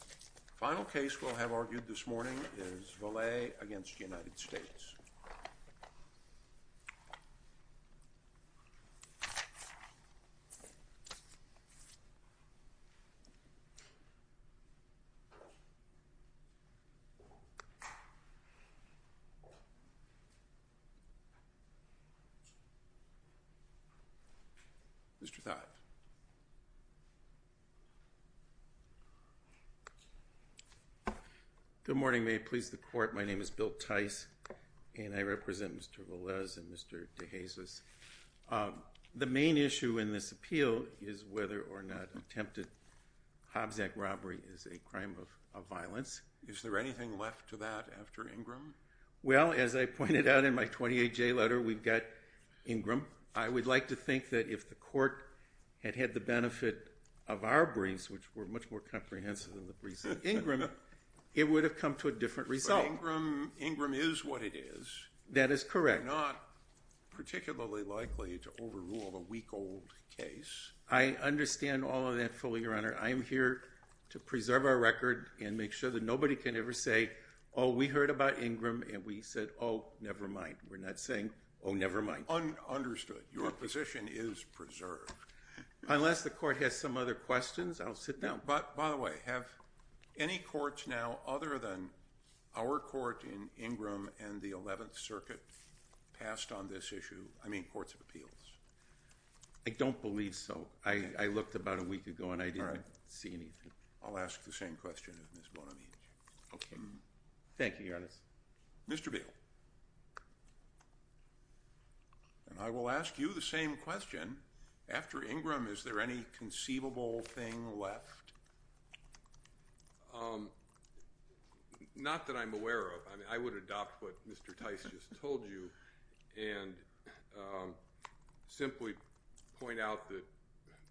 The final case we will have argued this morning is Velez v. United States. The case is side A v. United States. Ladies and Gentlemen, please stand fortem. And I represent Mr. Velez and Mr. DeJesus. The main issue in this appeal is whether or not attempted Hobbs Act robbery is a crime of violence. Is there anything left to that after Ingram? Well, as I pointed out in my 28-J letter, we've got Ingram. I would like to think that if the court had had the benefit of our briefs, which were much more comprehensive than the briefs of Ingram, it would have come to a different result. But Ingram is what it is. That is correct. We're not particularly likely to overrule a week-old case. I understand all of that fully, Your Honor. I am here to preserve our record and make sure that nobody can ever say, oh, we heard about Ingram and we said, oh, never mind. We're not saying, oh, never mind. Understood. Your position is preserved. Unless the court has some other questions, I'll sit down. By the way, have any courts now, other than our court in Ingram and the 11th Circuit, passed on this issue? I mean courts of appeals. I don't believe so. I looked about a week ago and I didn't see anything. I'll ask the same question as Ms. Bonamici. Thank you, Your Honor. Mr. Beal, I will ask you the same question. After Ingram, is there any conceivable thing left? Not that I'm aware of. I mean, I would adopt what Mr. Tice just told you and simply point out that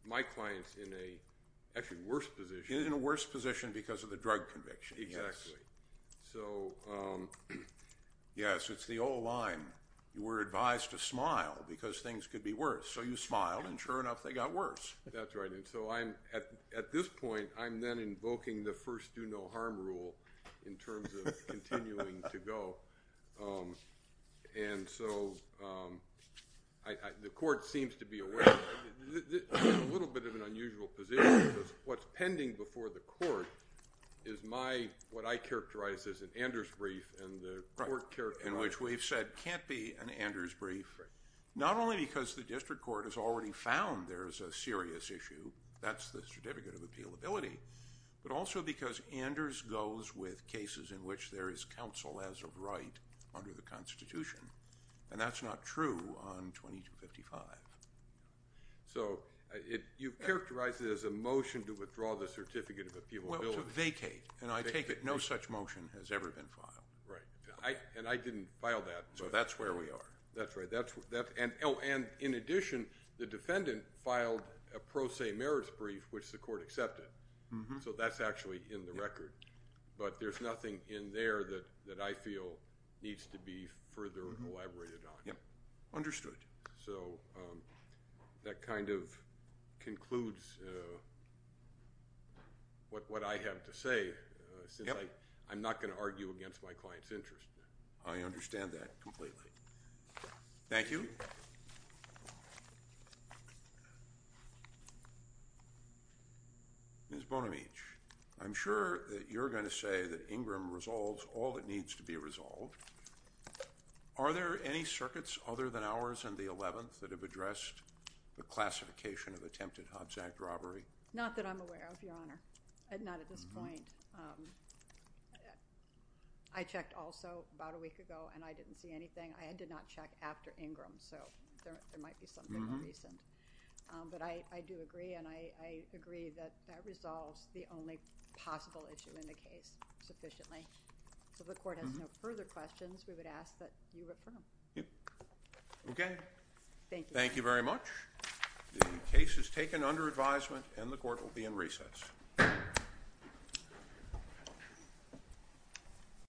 my client's in a, actually, worse position. He's in a worse position because of the drug conviction. Exactly. So, yes, it's the old line, you were advised to smile because things could be worse. So you smiled, and sure enough, they got worse. That's right, and so I'm, at this point, I'm then invoking the first do-no-harm rule in terms of continuing to go. And so, the court seems to be aware, a little bit of an unusual position, because what's pending before the court is my, what I characterize as an Anders brief, and the court characterizes that can't be an Anders brief, not only because the district court has already found there's a serious issue, that's the Certificate of Appealability, but also because Anders goes with cases in which there is counsel as of right under the Constitution, and that's not true on 2255. So you've characterized it as a motion to withdraw the Certificate of Appealability. Well, to vacate, and I take it no such motion has ever been filed. Right, and I didn't file that. So that's where we are. That's right, and in addition, the defendant filed a pro se merits brief, which the court accepted, so that's actually in the record. But there's nothing in there that I feel needs to be further elaborated on. Understood. So, that kind of concludes what I have to say, since I'm not going to argue against my client's interest. I understand that completely. Thank you. Ms. Bonamici, I'm sure that you're going to say that Ingram resolves all that needs to be resolved. Are there any circuits other than ours and the 11th that have addressed the classification of attempted Hobbs Act robbery? Not that I'm aware of, Your Honor, not at this point. I checked also about a week ago, and I didn't see anything. I did not check after Ingram, so there might be something more recent, but I do agree, and I agree that that resolves the only possible issue in the case sufficiently. So, if the court has no further questions, we would ask that you refer them. Okay. Thank you. Thank you very much. The case is taken under advisement, and the court will be in recess.